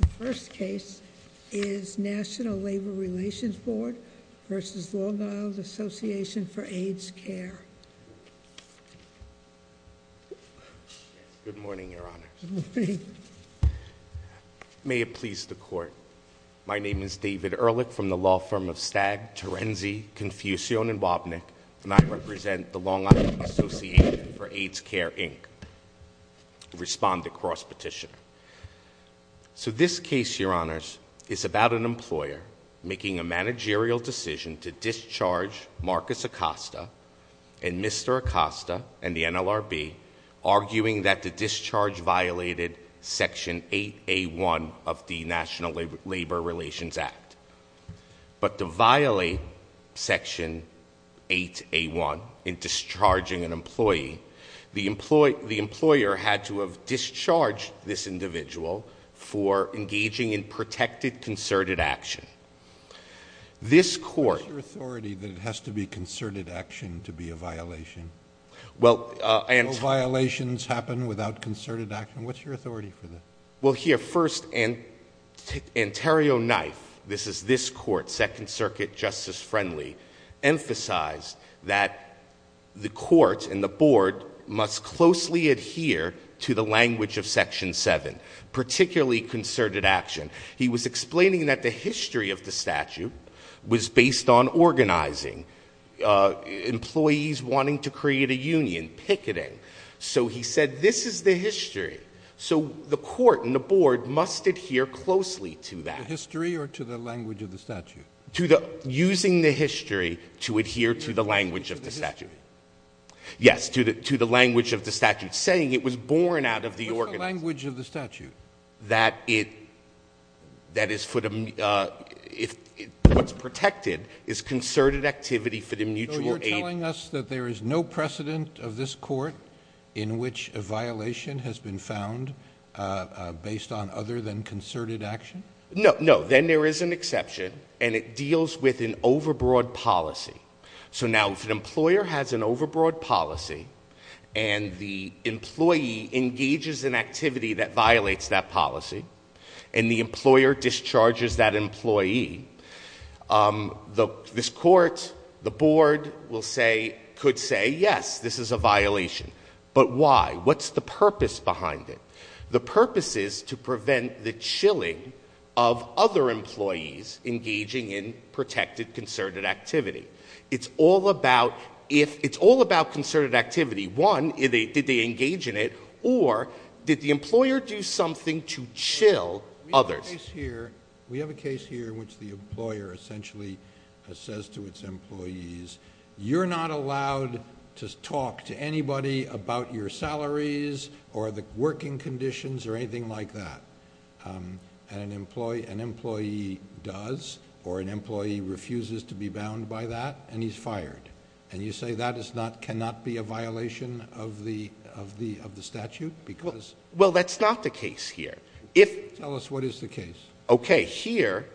The first case is National Labor Relations Board versus Long Island Association for AIDS Care. Good morning, your honors. Good morning. May it please the court. My name is David Ehrlich from the law firm of Stagg, Terenzi, Confucian, and Wobnick. And I represent the Long Island Association for AIDS Care, Inc. Respond to cross petition. So this case, your honors, is about an employer making a managerial decision to discharge Marcus Acosta and Mr. Acosta and the NLRB, arguing that the discharge violated section 8A1 of the National Labor Relations Act. But to violate section 8A1 in discharging an employee, the employer had to have discharged this individual for engaging in protected concerted action. This court- What's your authority that it has to be concerted action to be a violation? Well, and- No violations happen without concerted action. What's your authority for that? Well, here, first, Ontario Knife, this is this court, Second Circuit, Justice Friendly, emphasized that the court and the board must closely adhere to the language of section 7, particularly concerted action. He was explaining that the history of the statute was based on organizing, employees wanting to create a union, picketing. So he said, this is the history. So the court and the board must adhere closely to that. To the history or to the language of the statute? To the, using the history to adhere to the language of the statute. Yes, to the language of the statute, saying it was born out of the organization. What's the language of the statute? That it, that is for the, if, what's protected is concerted activity for the mutual aid- So you're telling us that there is no precedent of this court in which a violation has been found based on other than concerted action? No, no, then there is an exception, and it deals with an overbroad policy. So now, if an employer has an overbroad policy, and the employee engages in activity that violates that policy, and the employer discharges that employee, this court, the board will say, could say, yes, this is a violation. But why? What's the purpose behind it? The purpose is to prevent the chilling of other employees engaging in protected concerted activity. It's all about if, it's all about concerted activity. One, did they engage in it, or did the employer do something to chill others? We have a case here in which the employer essentially says to its employees, you're not allowed to talk to anybody about your salaries or the working conditions or anything like that. An employee does, or an employee refuses to be bound by that, and he's fired. And you say that is not, cannot be a violation of the statute, because- Well, that's not the case here. If- Tell us what is the case. Okay, here,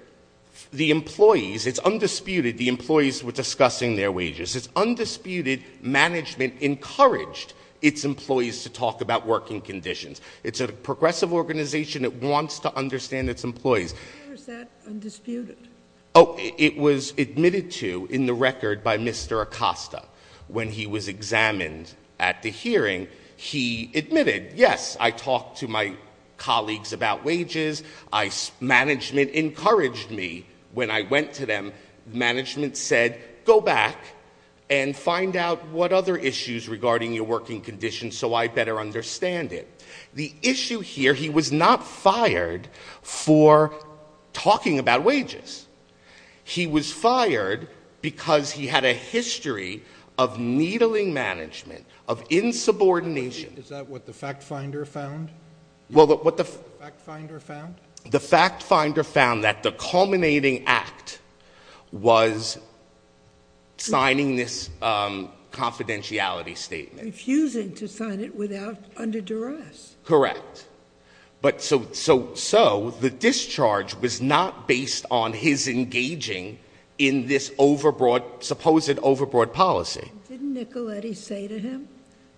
the employees, it's undisputed, the employees were discussing their wages, it's undisputed, management encouraged its employees to talk about working conditions. It's a progressive organization that wants to understand its employees. Is that undisputed? It was admitted to in the record by Mr. Acosta. When he was examined at the hearing, he admitted, yes, I talked to my colleagues about wages, management encouraged me. When I went to them, management said, go back and find out what other issues regarding your working conditions so I better understand it. The issue here, he was not fired for talking about wages. He was fired because he had a history of needling management, of insubordination. Is that what the fact finder found? Well, what the- Fact finder found? The fact finder found that the culminating act was signing this confidentiality statement. Refusing to sign it without, under duress. Correct. But so, the discharge was not based on his engaging in this overbroad, supposed overbroad policy. Didn't Nicoletti say to him,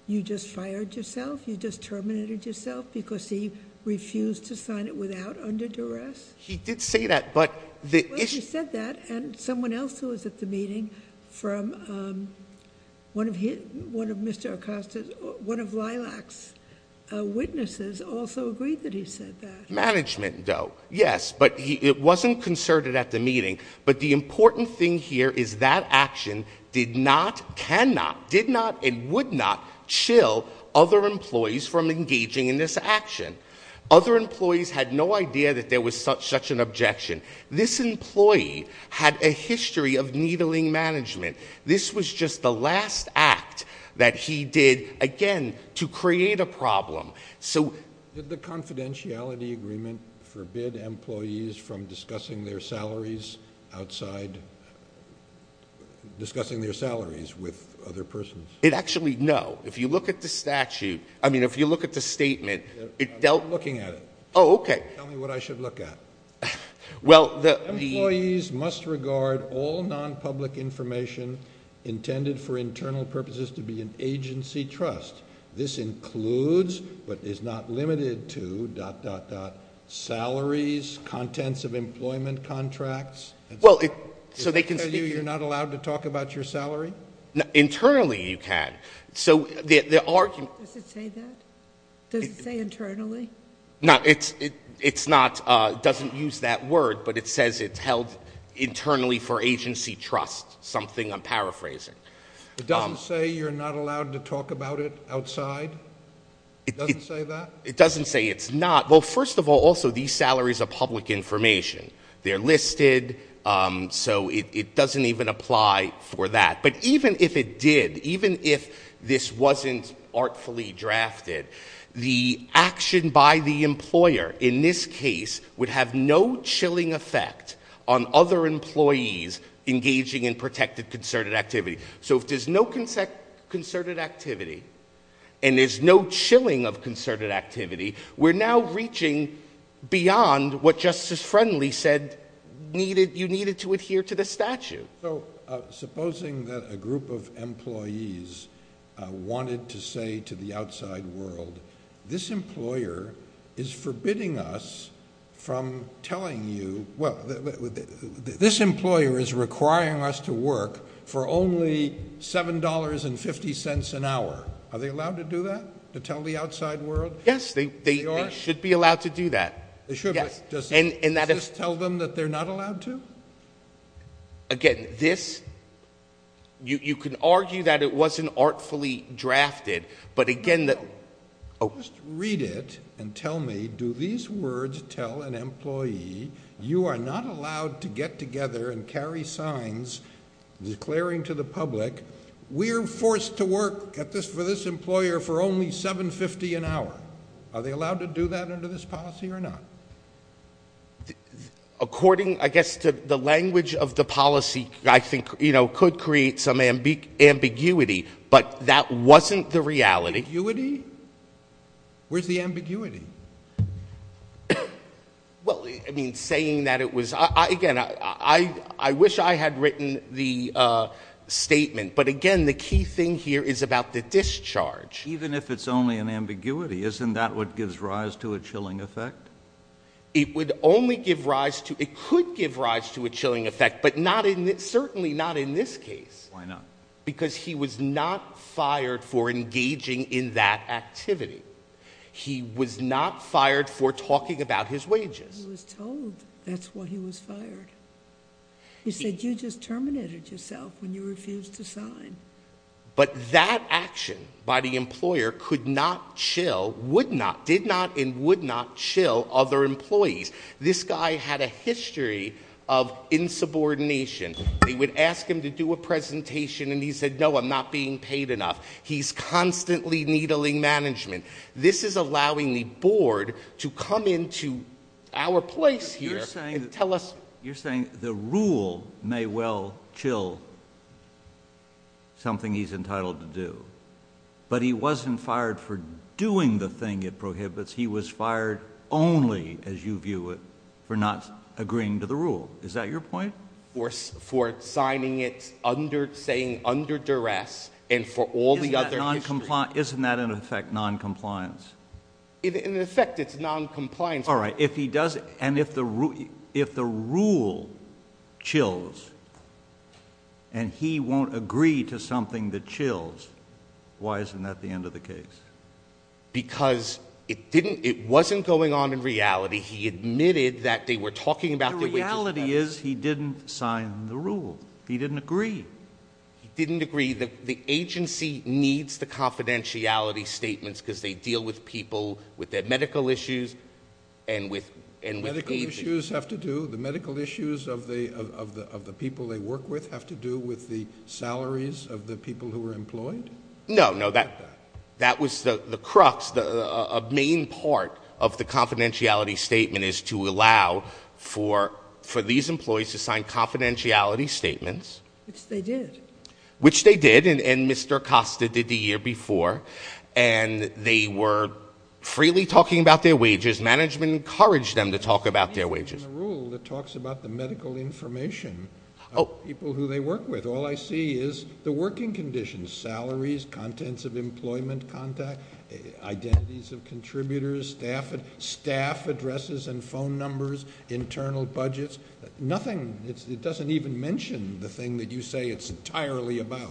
you just fired yourself, you just terminated yourself because he refused to sign it without under duress? He did say that, but the issue- He said that and someone else who was at the meeting from one of Mr. Acosta's, one of Lilac's witnesses also agreed that he said that. Management though, yes, but it wasn't concerted at the meeting. But the important thing here is that action did not, cannot, did not, and would not chill other employees from engaging in this action. Other employees had no idea that there was such an objection. This employee had a history of needling management. This was just the last act that he did, again, to create a problem. So- Did the confidentiality agreement forbid employees from discussing their salaries outside, discussing their salaries with other persons? It actually, no. If you look at the statute, I mean, if you look at the statement, it dealt- I'm not looking at it. Oh, okay. Tell me what I should look at. Well, the- Employees must regard all non-public information intended for internal purposes to be an agency trust. This includes, but is not limited to, dot, dot, dot, salaries, contents of employment contracts. Well, it- So they can speak- Does that tell you you're not allowed to talk about your salary? Internally you can. So the argument- Does it say that? Does it say internally? No, it's not, it doesn't use that word, but it says it's held internally for agency trust, something I'm paraphrasing. It doesn't say you're not allowed to talk about it outside? It doesn't say that? It doesn't say it's not. Well, first of all, also, these salaries are public information. They're listed, so it doesn't even apply for that. But even if it did, even if this wasn't artfully drafted, the action by the employer in this case would have no chilling effect on other employees engaging in protected concerted activity. So if there's no concerted activity, and there's no chilling of concerted activity, we're now reaching beyond what Justice Friendly said you needed to adhere to the statute. So, supposing that a group of employees wanted to say to the outside world, this employer is forbidding us from telling you, well, this employer is requiring us to work for only $7.50 an hour. Are they allowed to do that? To tell the outside world? Yes, they should be allowed to do that. They should, but does this tell them that they're not allowed to? Again, this, you can argue that it wasn't artfully drafted, but again that- Just read it and tell me, do these words tell an employee, you are not allowed to get together and carry signs declaring to the public, we're forced to work for this employer for only $7.50 an hour. Are they allowed to do that under this policy or not? According, I guess, to the language of the policy, I think, could create some ambiguity. But that wasn't the reality. Ambiguity? Where's the ambiguity? Well, I mean, saying that it was, again, I wish I had written the statement. But again, the key thing here is about the discharge. Even if it's only an ambiguity, isn't that what gives rise to a chilling effect? It would only give rise to, it could give rise to a chilling effect, but not in, certainly not in this case. Why not? Because he was not fired for engaging in that activity. He was not fired for talking about his wages. He was told that's why he was fired. He said, you just terminated yourself when you refused to sign. But that action by the employer could not chill, would not, did not, and would not chill other employees. This guy had a history of insubordination. They would ask him to do a presentation and he said, no, I'm not being paid enough. He's constantly needling management. This is allowing the board to come into our place here and tell us- You're saying the rule may well chill something he's entitled to do. But he wasn't fired for doing the thing it prohibits. He was fired only, as you view it, for not agreeing to the rule. Is that your point? For signing it under, saying under duress, and for all the other history. Isn't that, in effect, noncompliance? In effect, it's noncompliance. All right, if he does, and if the rule chills, and he won't agree to something that chills, why isn't that the end of the case? Because it wasn't going on in reality. He admitted that they were talking about their wages. The reality is, he didn't sign the rule. He didn't agree. He didn't agree. The agency needs the confidentiality statements because they deal with people, with their medical issues, and with- Medical issues have to do, the medical issues of the people they work with have to do with the salaries of the people who are employed? No, no, that was the crux, a main part of the confidentiality statement is to allow for these employees to sign confidentiality statements. Which they did. Which they did, and Mr. Acosta did the year before. And they were freely talking about their wages. Management encouraged them to talk about their wages. In the rule, it talks about the medical information of people who they work with. All I see is the working conditions, salaries, contents of employment contact, identities of contributors, staff addresses and phone numbers, internal budgets. Nothing, it doesn't even mention the thing that you say it's entirely about.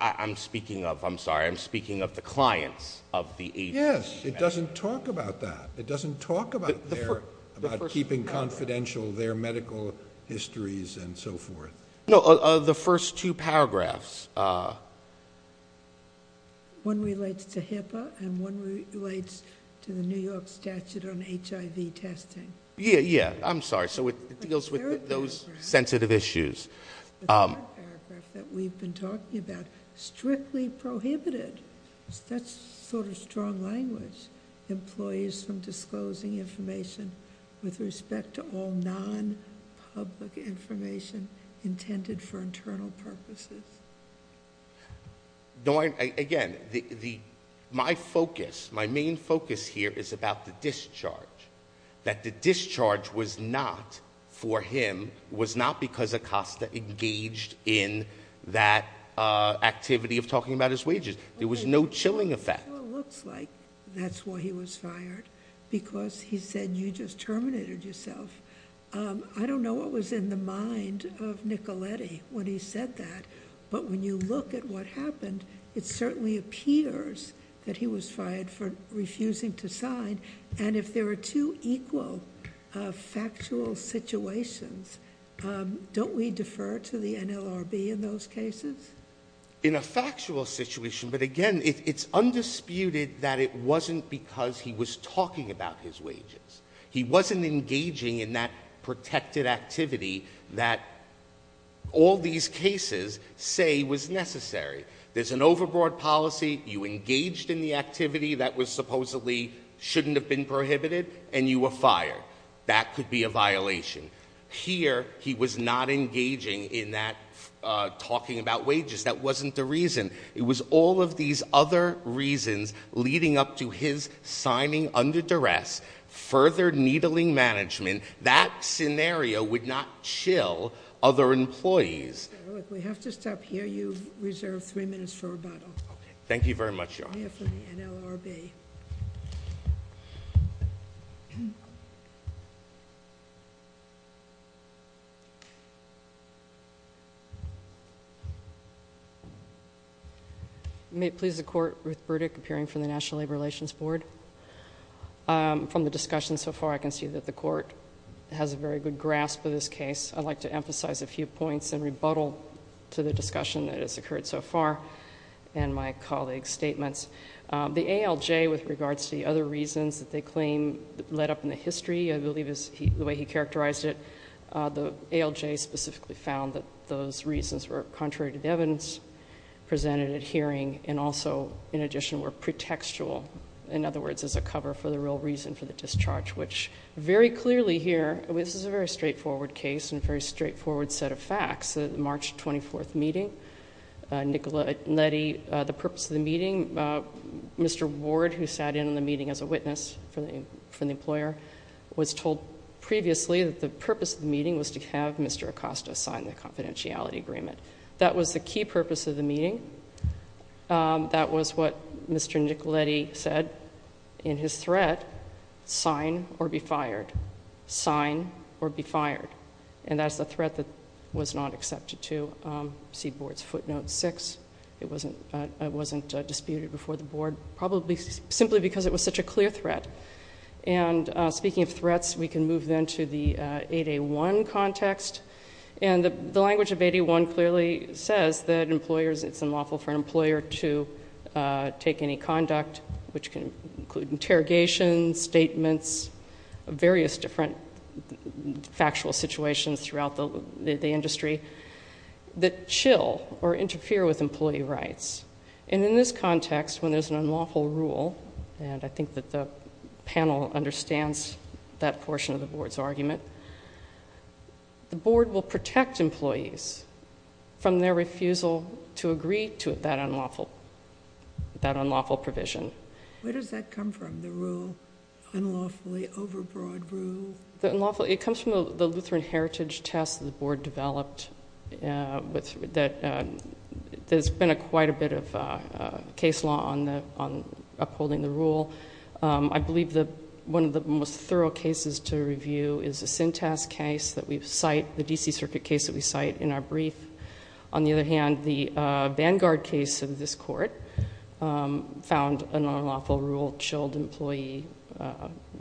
I'm speaking of, I'm sorry, I'm speaking of the clients of the agency. Yes, it doesn't talk about that. It doesn't talk about keeping confidential their medical histories and so forth. No, the first two paragraphs. One relates to HIPAA and one relates to the New York statute on HIV testing. Yeah, yeah, I'm sorry, so it deals with those sensitive issues. The paragraph that we've been talking about, strictly prohibited. That's sort of strong language. Employees from disclosing information with respect to all non-public information intended for internal purposes. No, again, my focus, my main focus here is about the discharge. That the discharge was not for him, was not because Acosta engaged in that activity of talking about his wages. There was no chilling effect. Well, it looks like that's why he was fired, because he said you just terminated yourself. I don't know what was in the mind of Nicoletti when he said that, but when you look at what happened, it certainly appears that he was fired for refusing to sign. And if there are two equal factual situations, don't we defer to the NLRB in those cases? In a factual situation, but again, it's undisputed that it wasn't because he was talking about his wages. He wasn't engaging in that protected activity that all these cases say was necessary. There's an overboard policy, you engaged in the activity that was supposedly shouldn't have been prohibited, and you were fired. That could be a violation. Here, he was not engaging in that talking about wages. That wasn't the reason. It was all of these other reasons leading up to his signing under duress, further needling management. That scenario would not chill other employees. We have to stop here. You've reserved three minutes for rebuttal. Thank you very much, Your Honor. We have for the NLRB. May it please the court, Ruth Burdick, appearing from the National Labor Relations Board. From the discussion so far, I can see that the court has a very good grasp of this case. I'd like to emphasize a few points and rebuttal to the discussion that has occurred so far and my colleague's statements. The ALJ, with regards to the other reasons that they claim led up in the history, I believe is the way he characterized it. The ALJ specifically found that those reasons were contrary to the evidence presented at hearing and also, in addition, were pretextual. In other words, as a cover for the real reason for the discharge, which very clearly here, this is a very straightforward case and a very straightforward set of facts, the March 24th meeting. Nicoletti, the purpose of the meeting, Mr. Ward, who sat in on the meeting as a witness from the employer, was told previously that the purpose of the meeting was to have Mr. Acosta sign the confidentiality agreement. That was the key purpose of the meeting. That was what Mr. Nicoletti said in his threat, sign or be fired. Sign or be fired. And that's the threat that was not accepted to see board's footnote six. It wasn't disputed before the board, probably simply because it was such a clear threat. And speaking of threats, we can move then to the 8A1 context. And the language of 8A1 clearly says that employers, it's unlawful for an employer to take any conduct, which can include interrogations, statements, various different factual situations throughout the industry, that chill or interfere with employee rights. And in this context, when there's an unlawful rule, and I think that the panel understands that portion of the board's argument, the board will protect employees from their refusal to agree to that unlawful provision. Where does that come from, the rule, unlawfully overbroad rule? It comes from the Lutheran Heritage test that the board developed. There's been quite a bit of case law on upholding the rule. I believe that one of the most thorough cases to review is the Sintas case that we've cite, the DC circuit case that we cite in our brief. On the other hand, the Vanguard case of this court found an unlawful rule chilled employee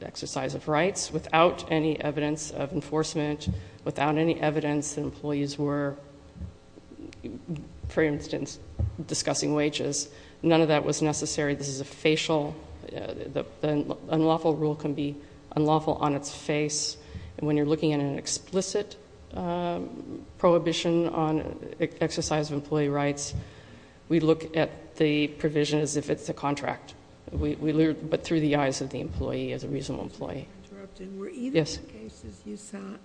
exercise of rights without any evidence of enforcement, without any evidence that employees were, for instance, discussing wages. None of that was necessary. This is a facial, the unlawful rule can be unlawful on its face. And when you're looking at an explicit prohibition on exercise of employee rights, we look at the provision as if it's a contract. We look, but through the eyes of the employee, as a reasonable employee. Yes. Were either of the cases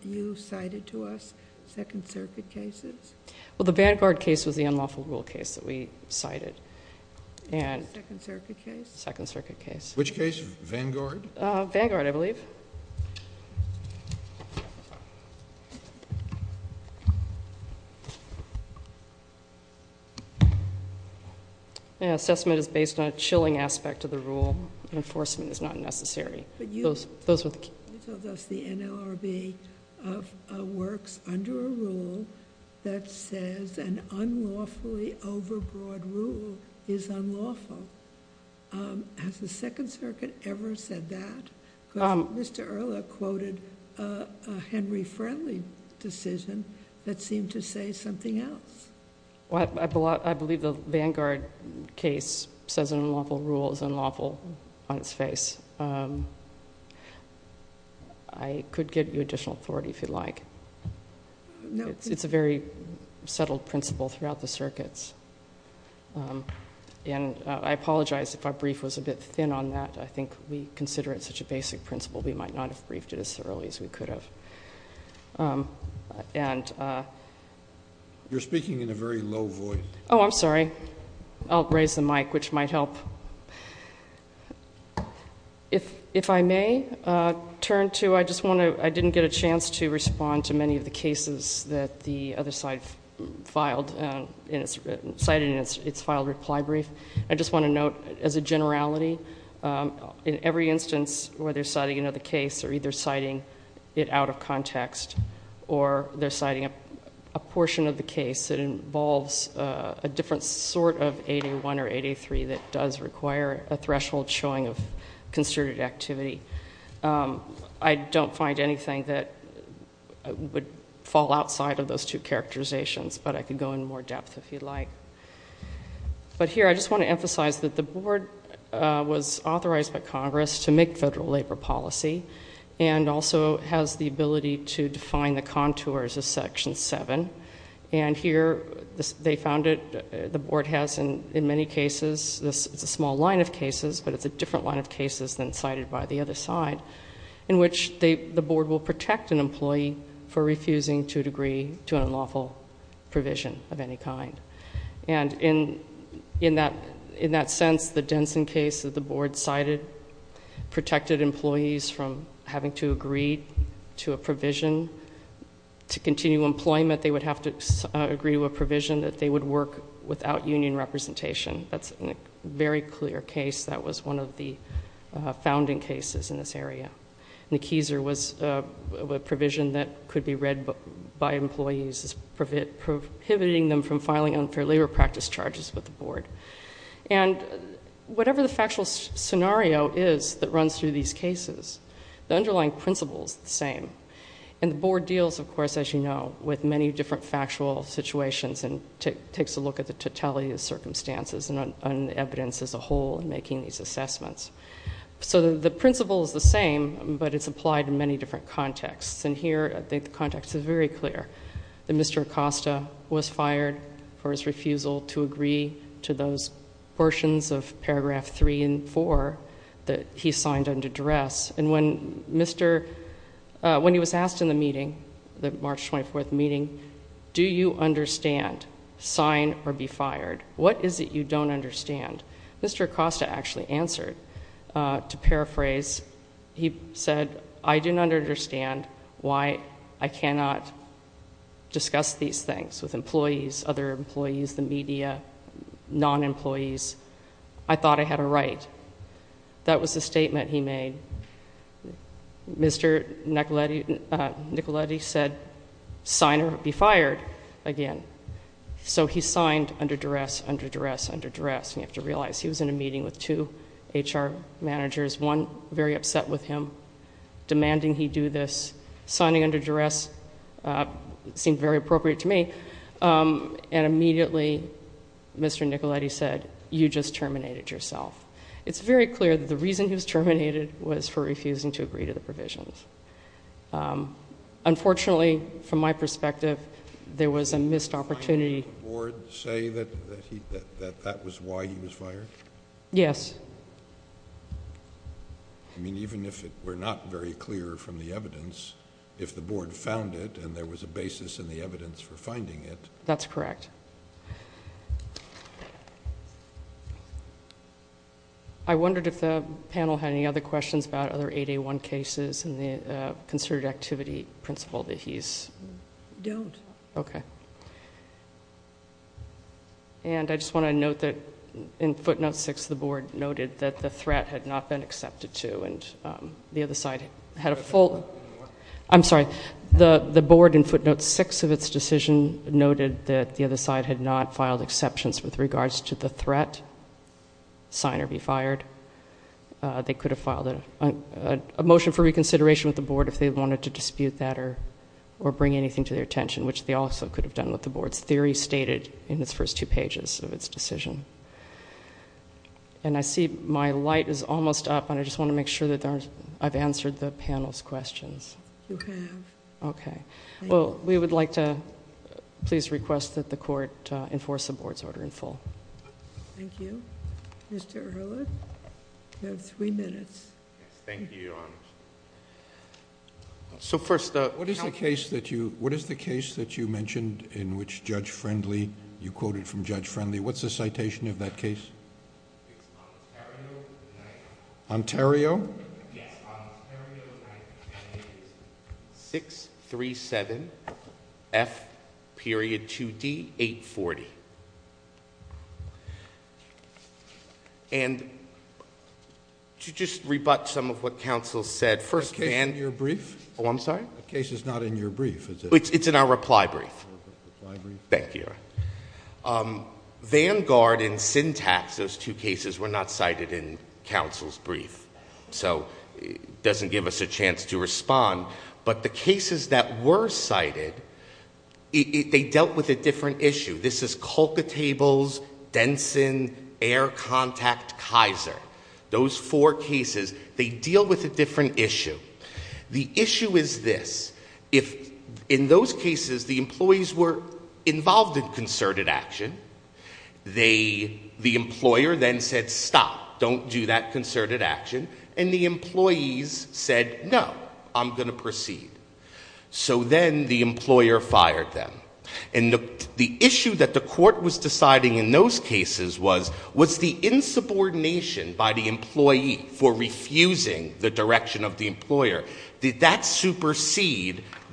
you cited to us second circuit cases? Well, the Vanguard case was the unlawful rule case that we cited. And- Second circuit case? Which case? Vanguard? Vanguard, I believe. The assessment is based on a chilling aspect of the rule. Enforcement is not necessary. But you- Those were the- You told us the NLRB works under a rule that says an unlawfully overbroad rule is unlawful. Has the second circuit ever said that? Mr. Erla quoted a Henry Friendly decision that seemed to say something else. Well, I believe the Vanguard case says an unlawful rule is unlawful on its face. I could get you additional authority if you'd like. No, please. It's a very settled principle throughout the circuits. And I apologize if our brief was a bit thin on that. I think we consider it such a basic principle, we might not have briefed it as thoroughly as we could have. And- You're speaking in a very low voice. Oh, I'm sorry. I'll raise the mic, which might help. If I may turn to, I just want to, I didn't get a chance to respond to many of the cases that the other side filed, cited in its filed reply brief. I just want to note as a generality, in every instance where they're citing another case, they're either citing it out of context or they're citing a portion of the case that involves a different sort of 801 or 803 that does require a threshold showing of concerted activity. I don't find anything that would fall outside of those two characterizations, but I could go in more depth if you'd like. But here, I just want to emphasize that the board was authorized by Congress to make federal labor policy. And also has the ability to define the contours of section seven. And here, they found it, the board has in many cases, it's a small line of cases, but it's a different line of cases than cited by the other side, in which the board will protect an employee for And in that sense, the Denson case that the board cited protected employees from having to agree to a provision to continue employment. They would have to agree to a provision that they would work without union representation. That's a very clear case. That was one of the founding cases in this area. And the Keiser was a provision that could be read by employees as prohibiting them from filing unfair labor practice charges with the board. And whatever the factual scenario is that runs through these cases, the underlying principle is the same. And the board deals, of course, as you know, with many different factual situations and takes a look at the totality of the circumstances and evidence as a whole in making these assessments. So the principle is the same, but it's applied in many different contexts. And here, I think the context is very clear, that Mr. Acosta was fired for his refusal to agree to those portions of paragraph three and four that he signed under duress. And when he was asked in the meeting, the March 24th meeting, do you understand, sign or be fired, what is it you don't understand? Mr. Acosta actually answered. To paraphrase, he said, I do not understand why I cannot discuss these things with employees, other employees, the media, non-employees. I thought I had a right. That was the statement he made. Mr. Nicoletti said, sign or be fired again. So he signed under duress, under duress, under duress, and you have to realize he was in a meeting with two HR managers. One very upset with him, demanding he do this. Signing under duress seemed very appropriate to me. And immediately, Mr. Nicoletti said, you just terminated yourself. It's very clear that the reason he was terminated was for refusing to agree to the provisions. Unfortunately, from my perspective, there was a missed opportunity...... Did the board say that that was why he was fired? Yes. I mean, even if it were not very clear from the evidence, if the board found it and there was a basis in the evidence for finding it... That's correct. I wondered if the panel had any other questions about other 8A1 cases, and the concerted activity principle that he's... Don't. Okay. And, I just want to note that in footnote six, the board noted that the threat had not been accepted to, and the other side had a full... I'm sorry. The board, in footnote six of its decision, noted that the other side had not filed exceptions with regards to the threat, sign or be fired. They could have filed a motion for reconsideration with the board if they wanted to dispute that or bring anything to their attention...... which they also could have done with the board's theory stated in its first two pages of its decision. And, I see my light is almost up, and I just want to make sure that I've answered the panel's questions. You have. Okay. Well, we would like to please request that the court enforce the board's order in full. Thank you. Mr. Erhola, you have three minutes. Thank you, Your Honor. So, first... What is the case that you mentioned in which Judge Friendly... you quoted from Judge Friendly. What's the citation of that case? It's Ontario... Ontario? Yes. Ontario 98637 F.2D 840. And, to just rebut some of what counsel said... Is the case in your brief? Oh, I'm sorry? The case is not in your brief, is it? It's in our reply brief. Thank you, Your Honor. Vanguard and Syntax, those two cases, were not cited in counsel's brief. So, it doesn't give us a chance to respond. But, the cases that were cited... They dealt with a different issue. This is Kolkatables, Denson, Air Contact, Kaiser. Those four cases, they deal with a different issue. The issue is this... In those cases, the employees were involved in concerted action. The employer then said, stop. Don't do that concerted action. And, the employees said, no. I'm going to proceed. So then, the employer fired them. And, the issue that the court was deciding in those cases was... Was the insubordination by the employee for refusing the direction of the employer...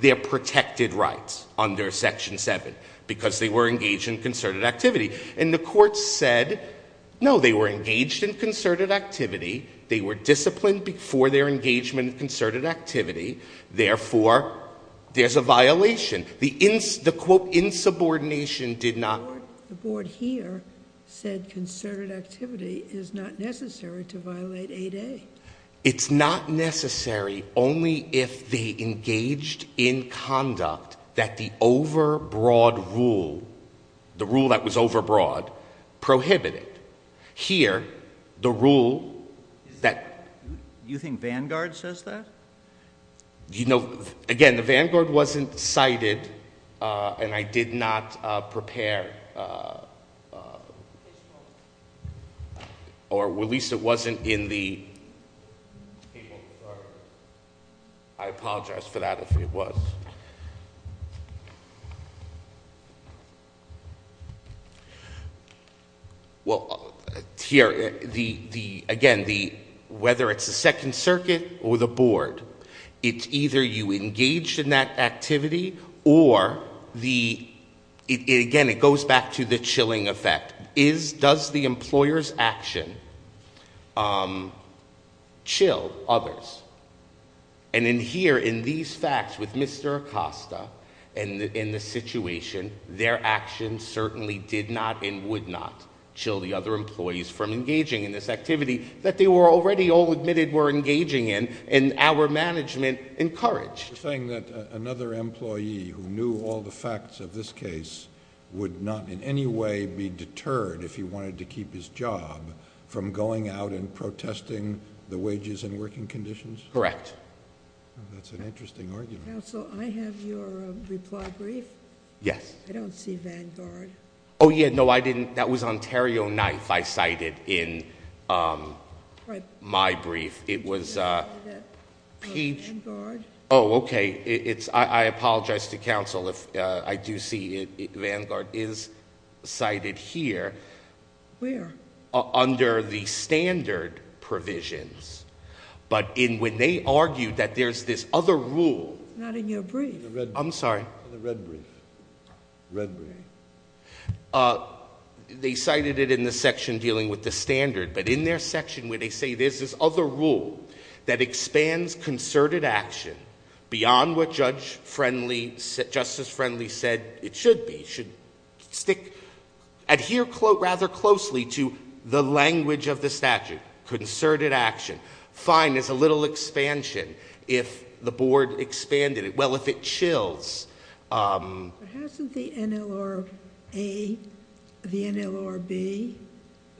Their protected rights under Section 7, because they were engaged in concerted activity. And, the court said, no. They were engaged in concerted activity. They were disciplined before their engagement in concerted activity. Therefore, there's a violation. The insubordination did not... The board here said concerted activity is not necessary to violate 8A. It's not necessary, only if they engaged in conduct that the overbroad rule... The rule that was overbroad, prohibited. Here, the rule that... You think Vanguard says that? You know, again, the Vanguard wasn't cited. And, I did not prepare... Or, at least it wasn't in the... I apologize for that, if it was. Well, here, the... Again, the... Whether it's the Second Circuit or the board... It's either you engaged in that activity or the... Again, it goes back to the chilling effect. Does the employer's action chill others? And, in here, in these facts with Mr. Acosta... And, in this situation, their action certainly did not and would not... Chill the other employees from engaging in this activity... That they were already all admitted were engaging in. And, our management encouraged. You're saying that another employee who knew all the facts of this case... If he wanted to keep his job, from going out and protesting the wages and working conditions? Correct. That's an interesting argument. Counsel, I have your reply brief. Yes. I don't see Vanguard. Oh, yeah. No, I didn't. That was Ontario 9th, I cited in my brief. It was Peach... Oh, okay. I apologize to counsel if I do see Vanguard is cited here. Where? Under the standard provisions. But, when they argued that there's this other rule... It's not in your brief. I'm sorry. In the red brief. Red brief. They cited it in the section dealing with the standard. But, in their section, where they say there's this other rule that expands concerted action... Beyond what Judge Friendly... Justice Friendly said it should be. It should stick... Adhere rather closely to the language of the statute. Concerted action. Fine. There's a little expansion, if the board expanded it. Well, if it chills. But, hasn't the NLRA, the NLRB,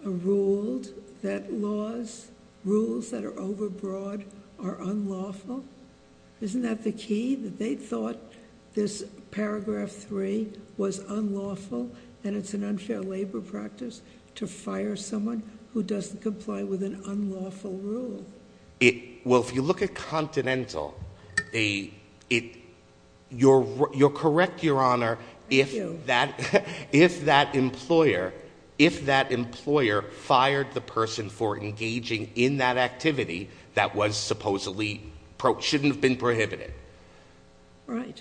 ruled that laws, rules that are overbroad, are unlawful? Isn't that the key? That they thought this Paragraph 3 was unlawful and it's an unfair labor practice to fire someone who doesn't comply with an unlawful rule. Well, if you look at Continental... You're correct, Your Honor. Thank you. If that employer... If that employer fired the person for engaging in that activity that was supposedly... Shouldn't have been prohibited. Right.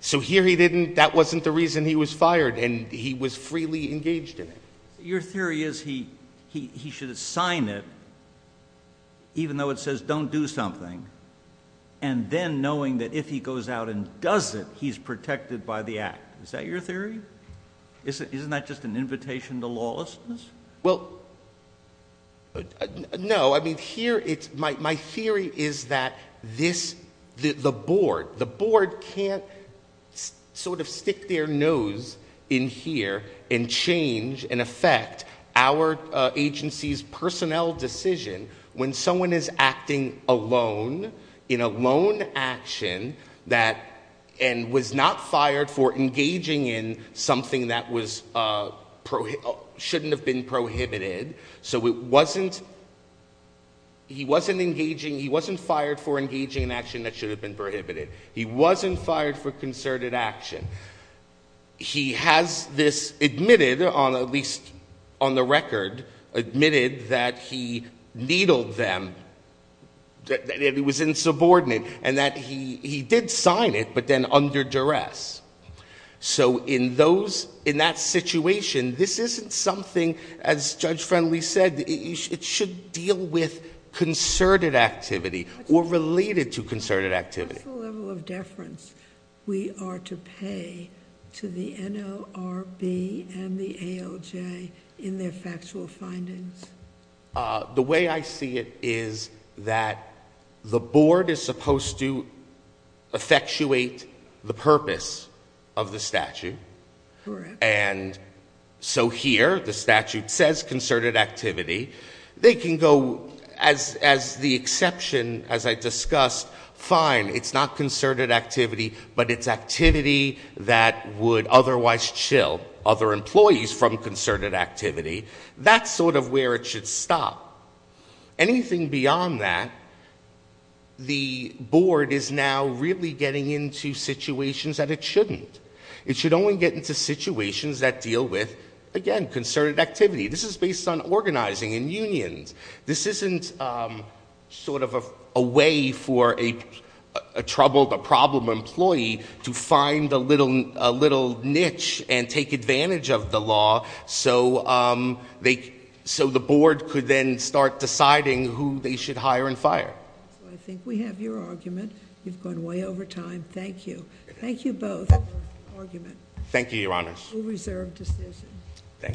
So, here he didn't... That wasn't the reason he was fired and he was freely engaged in it. Your theory is he should assign it, even though it says don't do something, and then knowing that if he goes out and does it, he's protected by the act. Is that your theory? Isn't that just an invitation to lawlessness? Well, no. I mean, here it's... My theory is that this... The board... The board can't sort of stick their nose in here and change and affect our agency's personnel decision when someone is acting alone in a lone action that... So, it wasn't... He wasn't engaging... He wasn't fired for engaging in action that should have been prohibited. He wasn't fired for concerted action. He has this admitted, at least on the record, admitted that he needled them, that it was insubordinate, and that he did sign it, but then under duress. So, in that situation, this isn't something, as Judge Friendly said, it should deal with concerted activity or related to concerted activity. What's the level of deference we are to pay to the NORB and the ALJ in their factual findings? The way I see it is that the board is supposed to effectuate the purpose of the statute. Correct. And so here, the statute says concerted activity. They can go, as the exception, as I discussed, fine, it's not concerted activity, but it's activity that would otherwise chill other employees from concerted activity. That's sort of where it should stop. Anything beyond that, the board is now really getting into situations that it shouldn't. It should only get into situations that deal with, again, concerted activity. This is based on organizing and unions. This isn't sort of a way for a troubled, a problem employee to find a little niche and take advantage of the law. So the board could then start deciding who they should hire and fire. I think we have your argument. You've gone way over time. Thank you. Thank you both for your argument. Thank you, Your Honors. We'll reserve decision. Thank you.